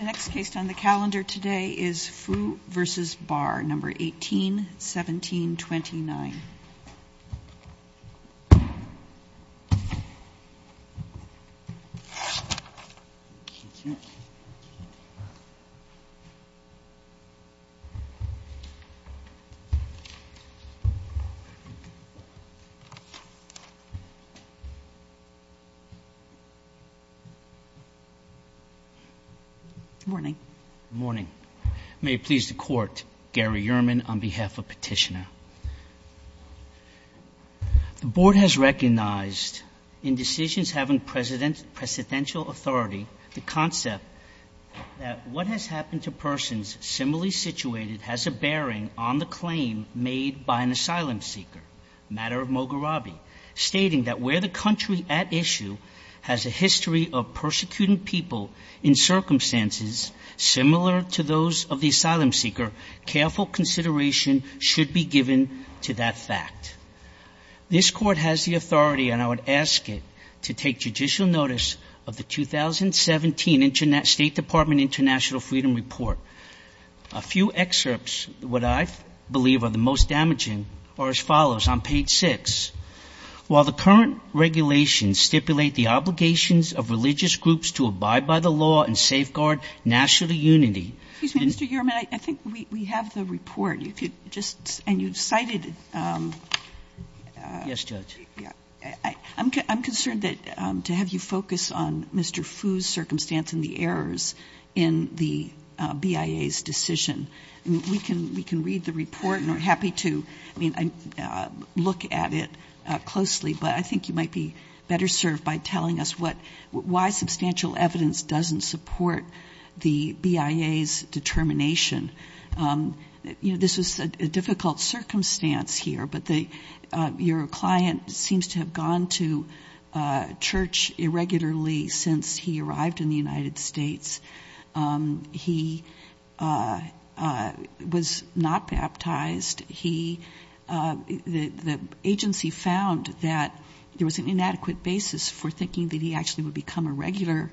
1817.29 Good morning. May it please the court, Gary Yerman on behalf of Petitioner. The Board has recognized in decisions having presidential authority the concept that what has happened to persons similarly situated has a bearing on the claim made by an asylum seeker, a matter of Moghrabi, stating that where the country at issue has a history of persecuting people in circumstances similar to those of the asylum seeker, careful consideration should be given to that fact. This Court has the authority, and I would ask it, to take judicial notice of the 2017 State Department International Freedom Report. A few excerpts, what I believe are the most damaging, are as follows on page 6. While the current regulations stipulate the obligations of religious groups to abide by the law and safeguard national unity, and you cited I'm concerned that to have you focus on Mr. Fu's circumstance and the errors in the BIA's decision, we can read the report. I'm happy to look at it closely, but I think you might be better served by telling us why substantial evidence doesn't support the BIA's determination. This was a difficult circumstance here, but your client seems to have gone to church irregularly since he arrived in the United States. He was not baptized. The agency found that there was an inadequate basis for thinking that he actually would become a regular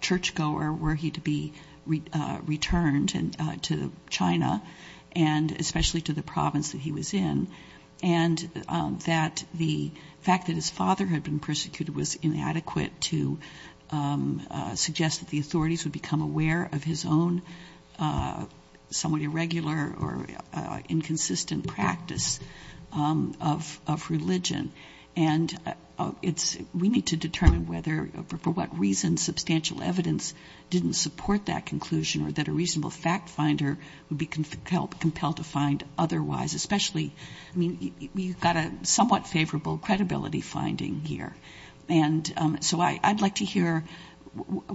churchgoer were he to be returned to China, and especially to the province that he was in, and that the his father had been persecuted was inadequate to suggest that the authorities would become aware of his own somewhat irregular or inconsistent practice of religion. And it's we need to determine whether for what reason substantial evidence didn't support that conclusion or that a reasonable fact finder would be compelled to find otherwise, especially, I mean, you've got a somewhat favorable credibility finding here. And so I'd like to hear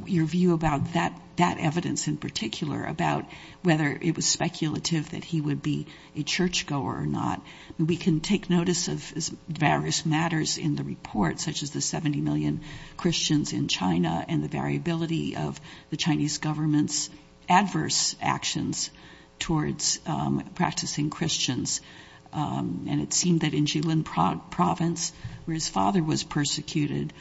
your view about that evidence in particular, about whether it was speculative that he would be a churchgoer or not. We can take notice of various matters in the report, such as the 70 million Christians in China and the variability of the Chinese government's adverse actions towards practicing Christians. And it seemed that in Jilin Province, where his father was persecuted,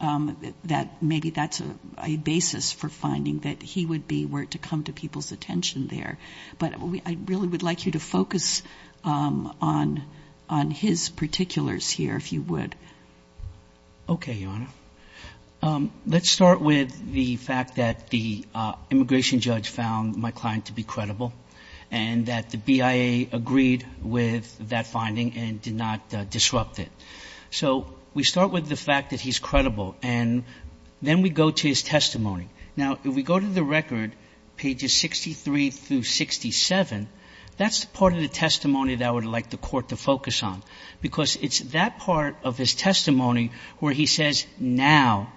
that maybe that's a basis for finding that he would be were it to come to people's attention there. But I really would like you to focus on his particulars here, if you would. Okay, Your Honor. Let's start with the fact that the immigration judge found my client to be credible, and that the BIA agreed with that finding and did not disrupt it. So we start with the fact that he's credible, and then we go to his testimony. Now, if we go to the record, pages 63 through 67, that's the part of the testimony that I would like the Court to focus on, because it's that part of his testimony where he says, now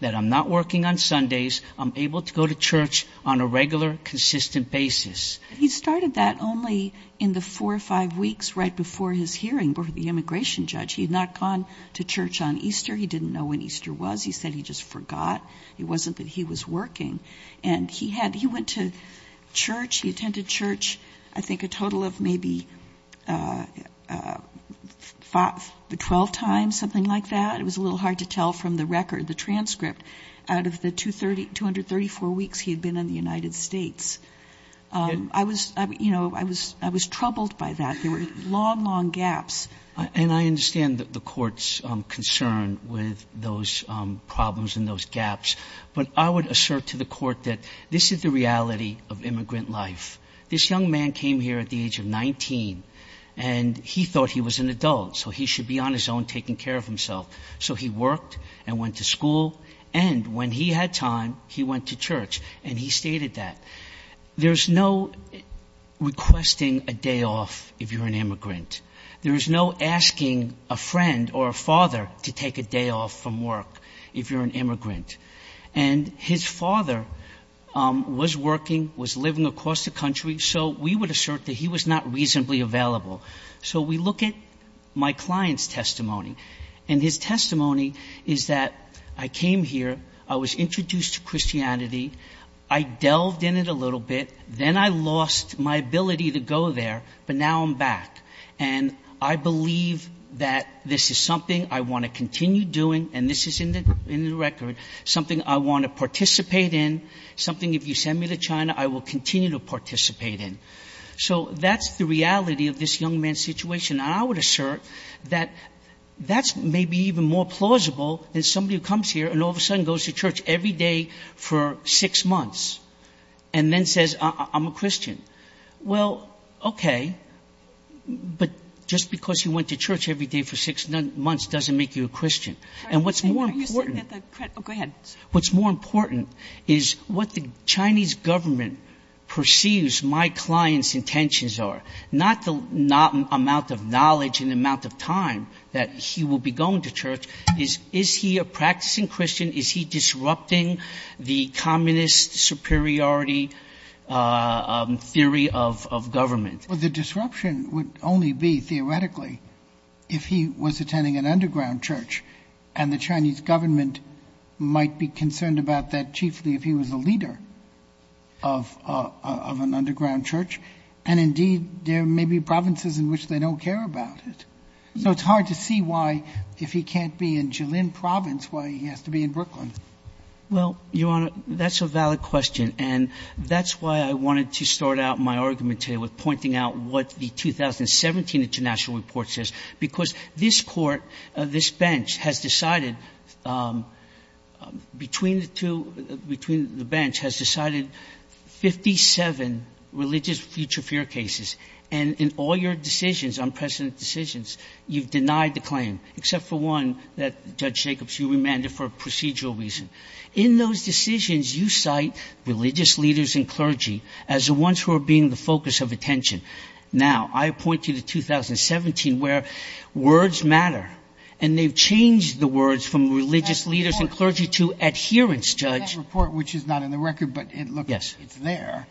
that I'm not working on Sundays, I'm able to go to church on a regular, consistent basis. He started that only in the four or five weeks right before his hearing, before the immigration judge. He had not gone to church on Easter. He didn't know when Easter was. He said he just forgot. It wasn't that he was working. And he went to church. He attended church, I think, a total of maybe 12 times, something like that. It was a little hard to tell from the record, the transcript, out of the 234 weeks he had been in the United States. I was, you know, I was troubled by that. There were long, long gaps. And I understand the Court's concern with those problems and those gaps. But I would assert to the Court that this is the reality of immigrant life. This young man came here at the age of 19, and he thought he was an adult, so he should be on his own taking care of himself. So he worked and went to school. And when he had time, he went to church. And he stated that. There's no requesting a day off if you're an immigrant. There's no asking a friend or a father to take a day off from work if you're an immigrant. And his father was working, was living across the country, so we would assert that he was not reasonably available. So we look at my client's testimony. And his testimony is that I came here, I was introduced to Christianity, I delved in it a little bit, then I lost my ability to go there, but now I'm back. And I believe that this is something I want to continue doing, and this is in the record, something I want to participate in, something if you send me to China, I will continue to participate in. So that's the reality of this young man's situation. And I would assert that that's maybe even more plausible than somebody who comes here and all of a sudden goes to church every day for six months, and then says, I'm a Christian. Well, okay, but just because you went to church every day for six months doesn't make you a Christian. And what's more important... Are you saying that the... Oh, go ahead. What's more important is what the Chinese government perceives my client's intentions are. Not the amount of knowledge and amount of time that he will be going to church. Is he a practicing Christian? Is he disrupting the communist superiority theory of government? Well, the disruption would only be, theoretically, if he was attending an underground church and the Chinese government might be concerned about that chiefly if he was a leader of an underground church. And indeed, there may be provinces in which they don't care about it. So it's hard to see why, if he can't be in Jilin province, why he has to be in Brooklyn. Well, Your Honor, that's a valid question. And that's why I wanted to start out my argument here with pointing out what the 2017 international report says. Because this court, this bench, has decided, between the two, between the bench, has decided 57 religious future fear cases. And in all your decisions, unprecedented decisions, you've denied the claim. Except for one that Judge Jacobs, you remanded for a procedural reason. In those decisions, you cite religious leaders and clergy as the ones who are being the focus of attention. Now, I point to the 2017 where words matter. And they've changed the words from religious leaders and clergy to adherence, Judge. That report, which is not in the record, but look, it's there.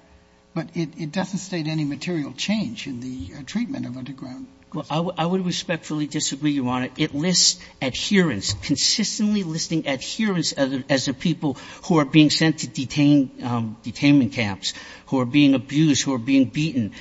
But it doesn't state any material change in the treatment of underground Christians. Well, I would respectfully disagree, Your Honor. It lists adherence, consistently listing adherence as the people who are being sent to detainment camps, who are being abused, who are being beaten.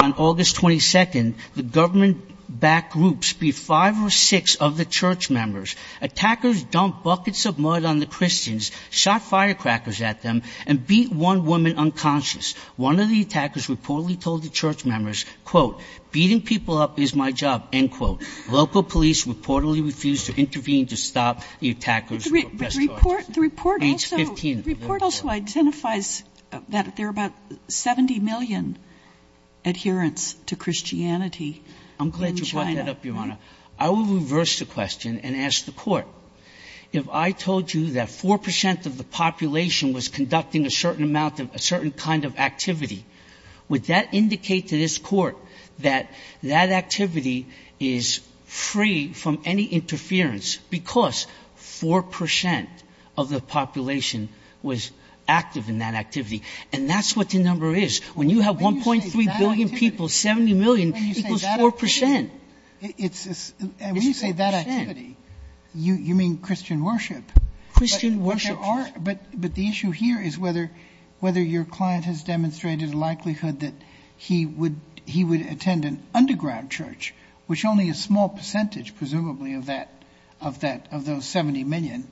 On August 22nd, the government-backed groups beat five or six of the church members. Attackers dumped buckets of mud on the Christians, shot firecrackers at them, and beat one woman unconscious. One of the attackers reportedly told the church members, quote, beating people up is my job, end quote. Local police reportedly refused to intervene to stop the attackers. The report also identifies that there are about 70 million adherents to Christianity in China. I'm glad you brought that up, Your Honor. I will reverse the question and ask the Court. If I told you that 4 percent of the population was conducting a certain amount of a certain kind of activity, would that indicate to this Court that that activity is free from interference because 4 percent of the population was active in that activity? And that's what the number is. When you have 1.3 billion people, 70 million equals 4 percent. When you say that activity, you mean Christian worship. Christian worship. But the issue here is whether your client has demonstrated a likelihood that he would attend an underground church, which only a small percentage, presumably, of that, of those 70 million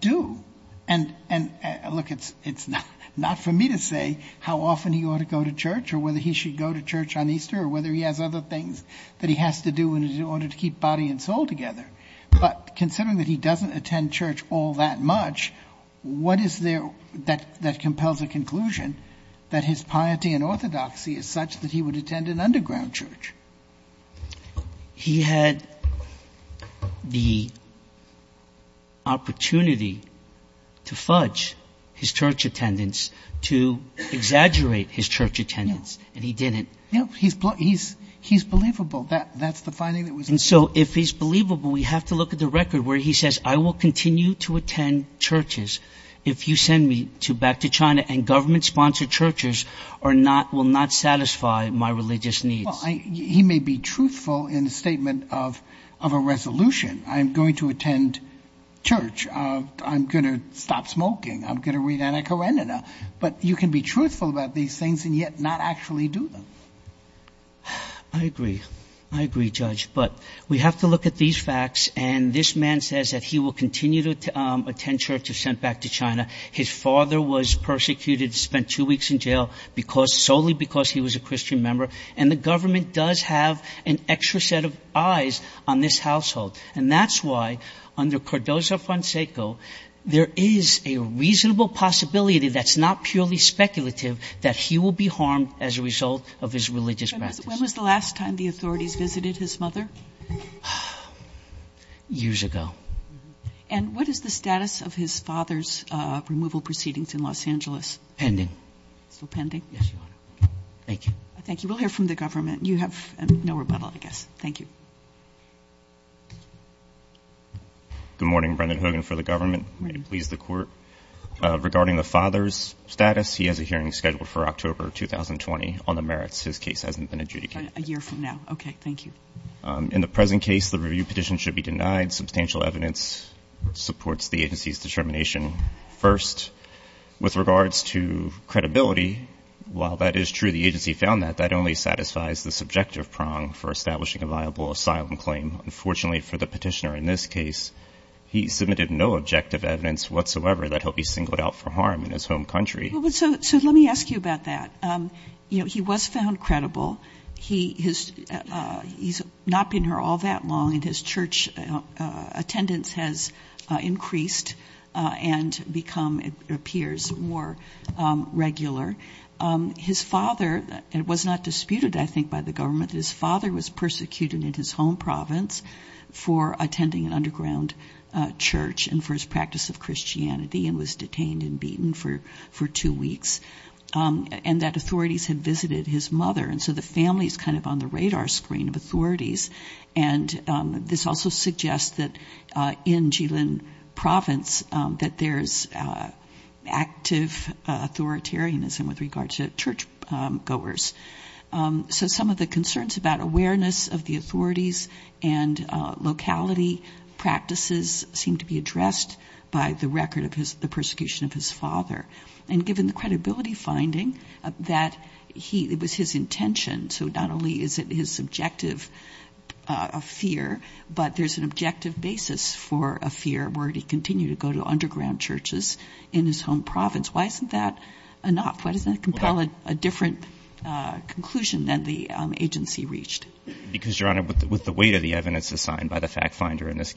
do. And look, it's not for me to say how often he ought to go to church or whether he should go to church on Easter or whether he has other things that he has to do in order to keep body and soul together. But considering that he doesn't attend church all that much, what is there that compels a conclusion that his piety and orthodoxy is such that he would attend an underground church? He had the opportunity to fudge his church attendance, to exaggerate his church attendance, and he didn't. Yes. He's believable. That's the finding that was made. And so if he's believable, we have to look at the record where he says, I will continue to attend churches if you send me back to China and government-sponsored churches will not satisfy my religious needs. Well, he may be truthful in a statement of a resolution. I'm going to attend church. I'm going to stop smoking. I'm going to read Anna Karenina. But you can be truthful about these things and yet not actually do them. I agree. I agree, Judge. But we have to look at these facts. And this man says that he will continue to attend church if sent back to China. His father was persecuted, spent two weeks in jail solely because he was a Christian member. And the government does have an extra set of eyes on this household. And that's why under Cardozo-Fonseca, there is a reasonable possibility that's not purely speculative that he will be harmed as a result of his religious practice. When was the last time the authorities visited his mother? Years ago. And what is the status of his father's removal proceedings in Los Angeles? Pending. Still pending? Yes, Your Honor. Thank you. Thank you. We'll hear from the government. You have no rebuttal, I guess. Thank you. Good morning. Brendan Hogan for the government. May it please the Court. Regarding the father's status, he has a hearing scheduled for October 2020 on the merits. His case hasn't been adjudicated. A year from now. Okay. Thank you. In the present case, the review petition should be denied. Substantial evidence supports the agency's determination. First, with regards to credibility, while that is true, the agency found that that only satisfies the subjective prong for establishing a viable asylum claim. Unfortunately for the petitioner in this case, he submitted no objective evidence whatsoever that he'll be singled out for harm in his home country. So let me ask you about that. You know, he was found credible. He's not been here all that long and his church attendance has increased and become, it appears, more regular. His father was not disputed, I think, by the government. His father was persecuted in his home province for attending an underground church and for his practice of Christianity and was detained and beaten for two weeks. And that authorities had visited his mother. And so the family is kind of on the radar screen of authorities. And this also suggests that in Jilin province that there's active authoritarianism with regard to church goers. So some of the concerns about awareness of the authorities and locality practices seem to be addressed by the record of the persecution of his father. And given the credibility finding that it was his intention, so not only is it his subjective fear, but there's an objective basis for a fear were he to continue to go to underground churches in his home province. Why isn't that enough? Why doesn't that compel a different conclusion than the agency reached? Because, Your Honor, with the weight of the evidence assigned by the fact finder in this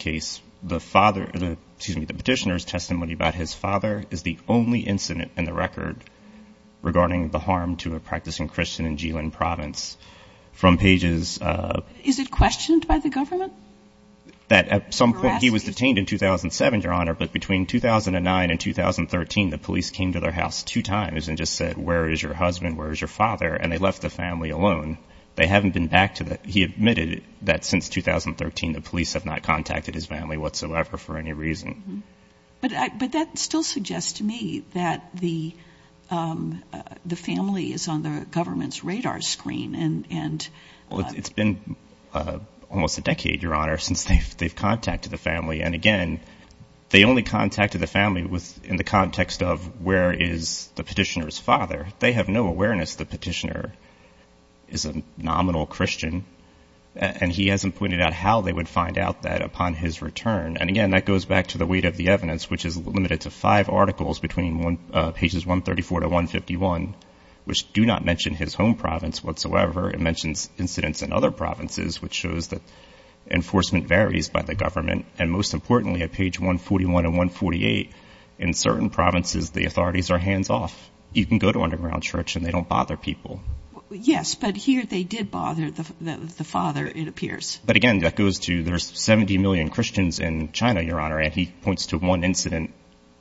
in the record regarding the harm to a practicing Christian in Jilin province from pages of Is it questioned by the government? That at some point he was detained in 2007, Your Honor, but between 2009 and 2013, the police came to their house two times and just said, where is your husband? Where is your father? And they left the family alone. They haven't been back to that. He admitted that since 2013, the police have not contacted his family whatsoever for any reason. But that still suggests to me that the family is on the government's radar screen. It's been almost a decade, Your Honor, since they've contacted the family. And again, they only contacted the family in the context of where is the petitioner's father. They have no awareness the petitioner is a nominal Christian. And he hasn't pointed out how they would find out that upon his return. And again, that goes back to the weight of the evidence, which is limited to five articles between pages 134 to 151, which do not mention his home province whatsoever. It mentions incidents in other provinces, which shows that enforcement varies by the government. And most importantly, at page 141 and 148, in certain provinces, the authorities are hands off. You can go to underground church and they don't bother people. Yes, but here they did bother the father, it appears. But again, that goes to there's 70 million Christians in China, Your Honor, and he points to one incident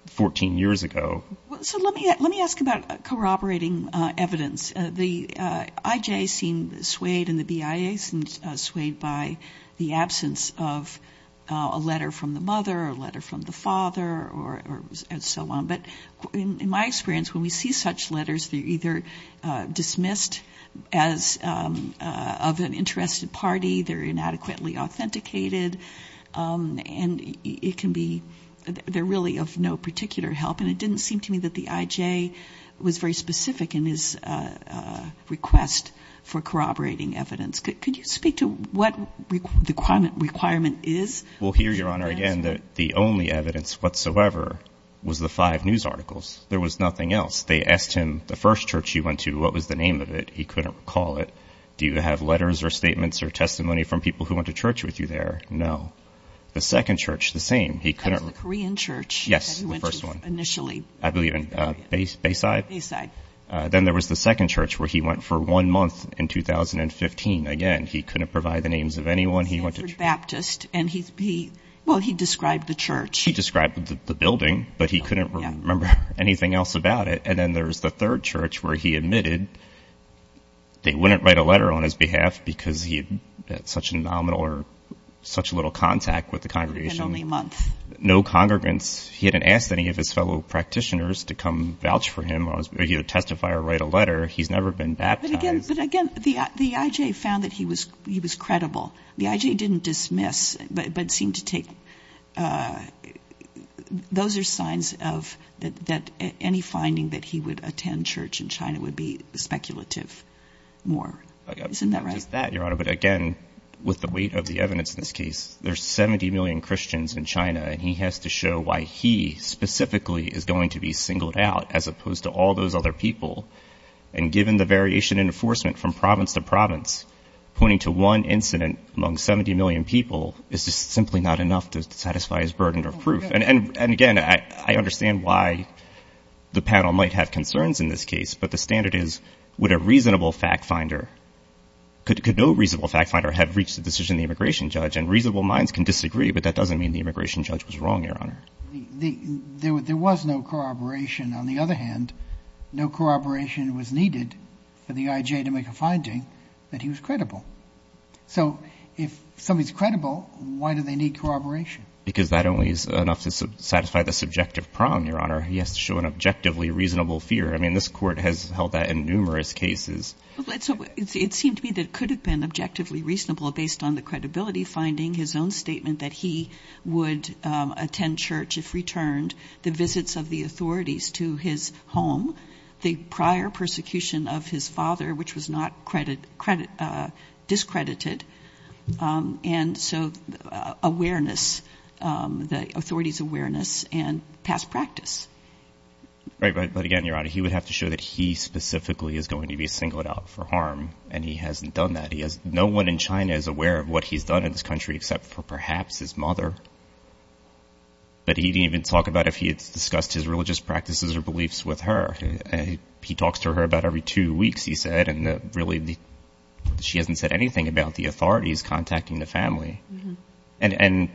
14 years ago. So let me let me ask about corroborating evidence. The IJ seemed swayed and the BIA seemed swayed by the absence of a letter from the mother, a letter from the father or so on. But in my experience, when we see such letters, they're either dismissed as of an uninterested party, they're inadequately authenticated, and it can be they're really of no particular help. And it didn't seem to me that the IJ was very specific in his request for corroborating evidence. Could you speak to what the requirement is? Well, here, Your Honor, again, the only evidence whatsoever was the five news articles. There was nothing else. They asked him, the first church he went to, what was the name of it? He couldn't recall it. Do you have letters or statements or testimony from people who went to church with you there? No. The second church, the same. He couldn't. It was the Korean church. Yes, the first one. That he went to initially. I believe in Bayside? Bayside. Then there was the second church where he went for one month in 2015. Again, he couldn't provide the names of anyone. He went to St. Ferdinand Baptist and he, well, he described the church. He described the building, but he couldn't remember anything else about it. And then there was the third church where he admitted they wouldn't write a letter on his behalf because he had such a nominal or such little contact with the congregation. Only a month. No congregants. He hadn't asked any of his fellow practitioners to come vouch for him. He would testify or write a letter. He's never been baptized. But again, the I.J. found that he was credible. The I.J. didn't dismiss, but seemed to take. Those are signs that any finding that he would attend church in China would be speculative more. Isn't that right? Not just that, Your Honor, but again, with the weight of the evidence in this case, there's 70 million Christians in China and he has to show why he specifically is going to be singled out as opposed to all those other people. And given the variation in enforcement from province to province, pointing to one incident among 70 million people is just simply not enough to satisfy his burden of proof. And again, I understand why the panel might have concerns in this case, but the standard is would a reasonable fact finder, could no reasonable fact finder have reached a decision in the immigration judge? And reasonable minds can disagree, but that doesn't mean the immigration judge was wrong, Your Honor. There was no corroboration. On the other hand, no corroboration was needed for the I.J. to make a finding that he was credible. So if somebody's credible, why do they need corroboration? Because that only is enough to satisfy the subjective prong, Your Honor. He has to show an objectively reasonable fear. I mean, this court has held that in numerous cases. It seemed to me that it could have been objectively reasonable based on the credibility finding, his own statement that he would attend church if returned, the visits of the authorities to his home, the prior persecution of his father, which was not discredited, and so awareness, the authorities' awareness and past practice. Right, but again, Your Honor, he would have to show that he specifically is going to be singled out for harm, and he hasn't done that. No one in China is aware of what he's done in this country except for perhaps his mother. But he didn't even talk about if he had discussed his religious practices or beliefs with her. He talks to her about every two weeks, he said, and really, she hasn't said anything about the authorities contacting the family. And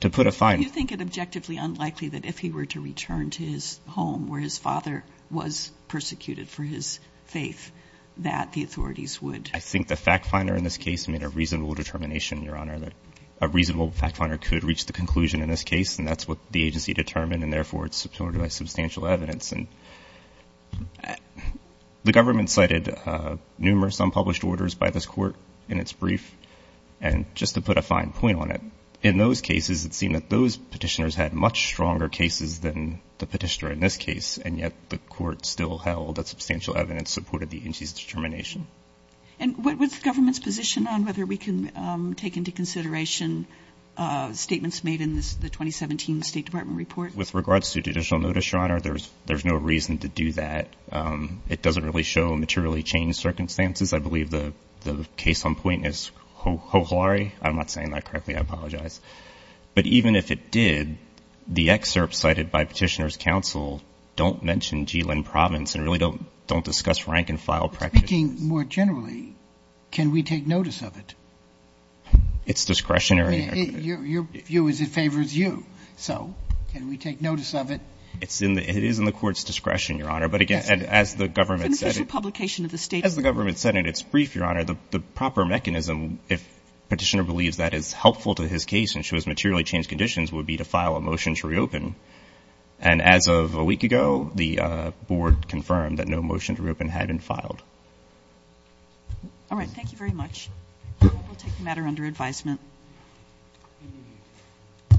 to put a fine... Do you think it objectively unlikely that if he were to return to his home where his father was persecuted for his faith that the authorities would... I think the fact finder in this case made a reasonable determination, Your Honor, that a reasonable fact finder could reach the conclusion in this case, and that's what the agency determined, and therefore it's supported by substantial evidence. And the government cited numerous unpublished orders by this court in its brief, and just to put a fine point on it, in those cases it seemed that those petitioners had much stronger cases than the petitioner in this case, and yet the court still held that substantial evidence supported the agency's determination. And what's the government's position on whether we can take into consideration statements made in the 2017 State Department report? With regards to judicial notice, Your Honor, there's no reason to do that. It doesn't really show materially changed circumstances. I believe the case on point is Hoholare. I'm not saying that correctly, I apologize. But even if it did, the excerpts cited by Petitioner's Counsel don't mention Jilin Province and really don't discuss rank-and-file practices. Speaking more generally, can we take notice of it? It's discretionary. Your view is it favors you. So, can we take notice of it? It is in the court's discretion, Your Honor. But again, as the government said... It's an official publication of the State Department. As the government said in its brief, Your Honor, the proper mechanism, if Petitioner believes that is helpful to his case and shows materially changed conditions, would be to file a motion to reopen. And as of a week ago, the board confirmed that no motion to reopen had been filed. All right. Thank you very much. We'll take the matter under advisement.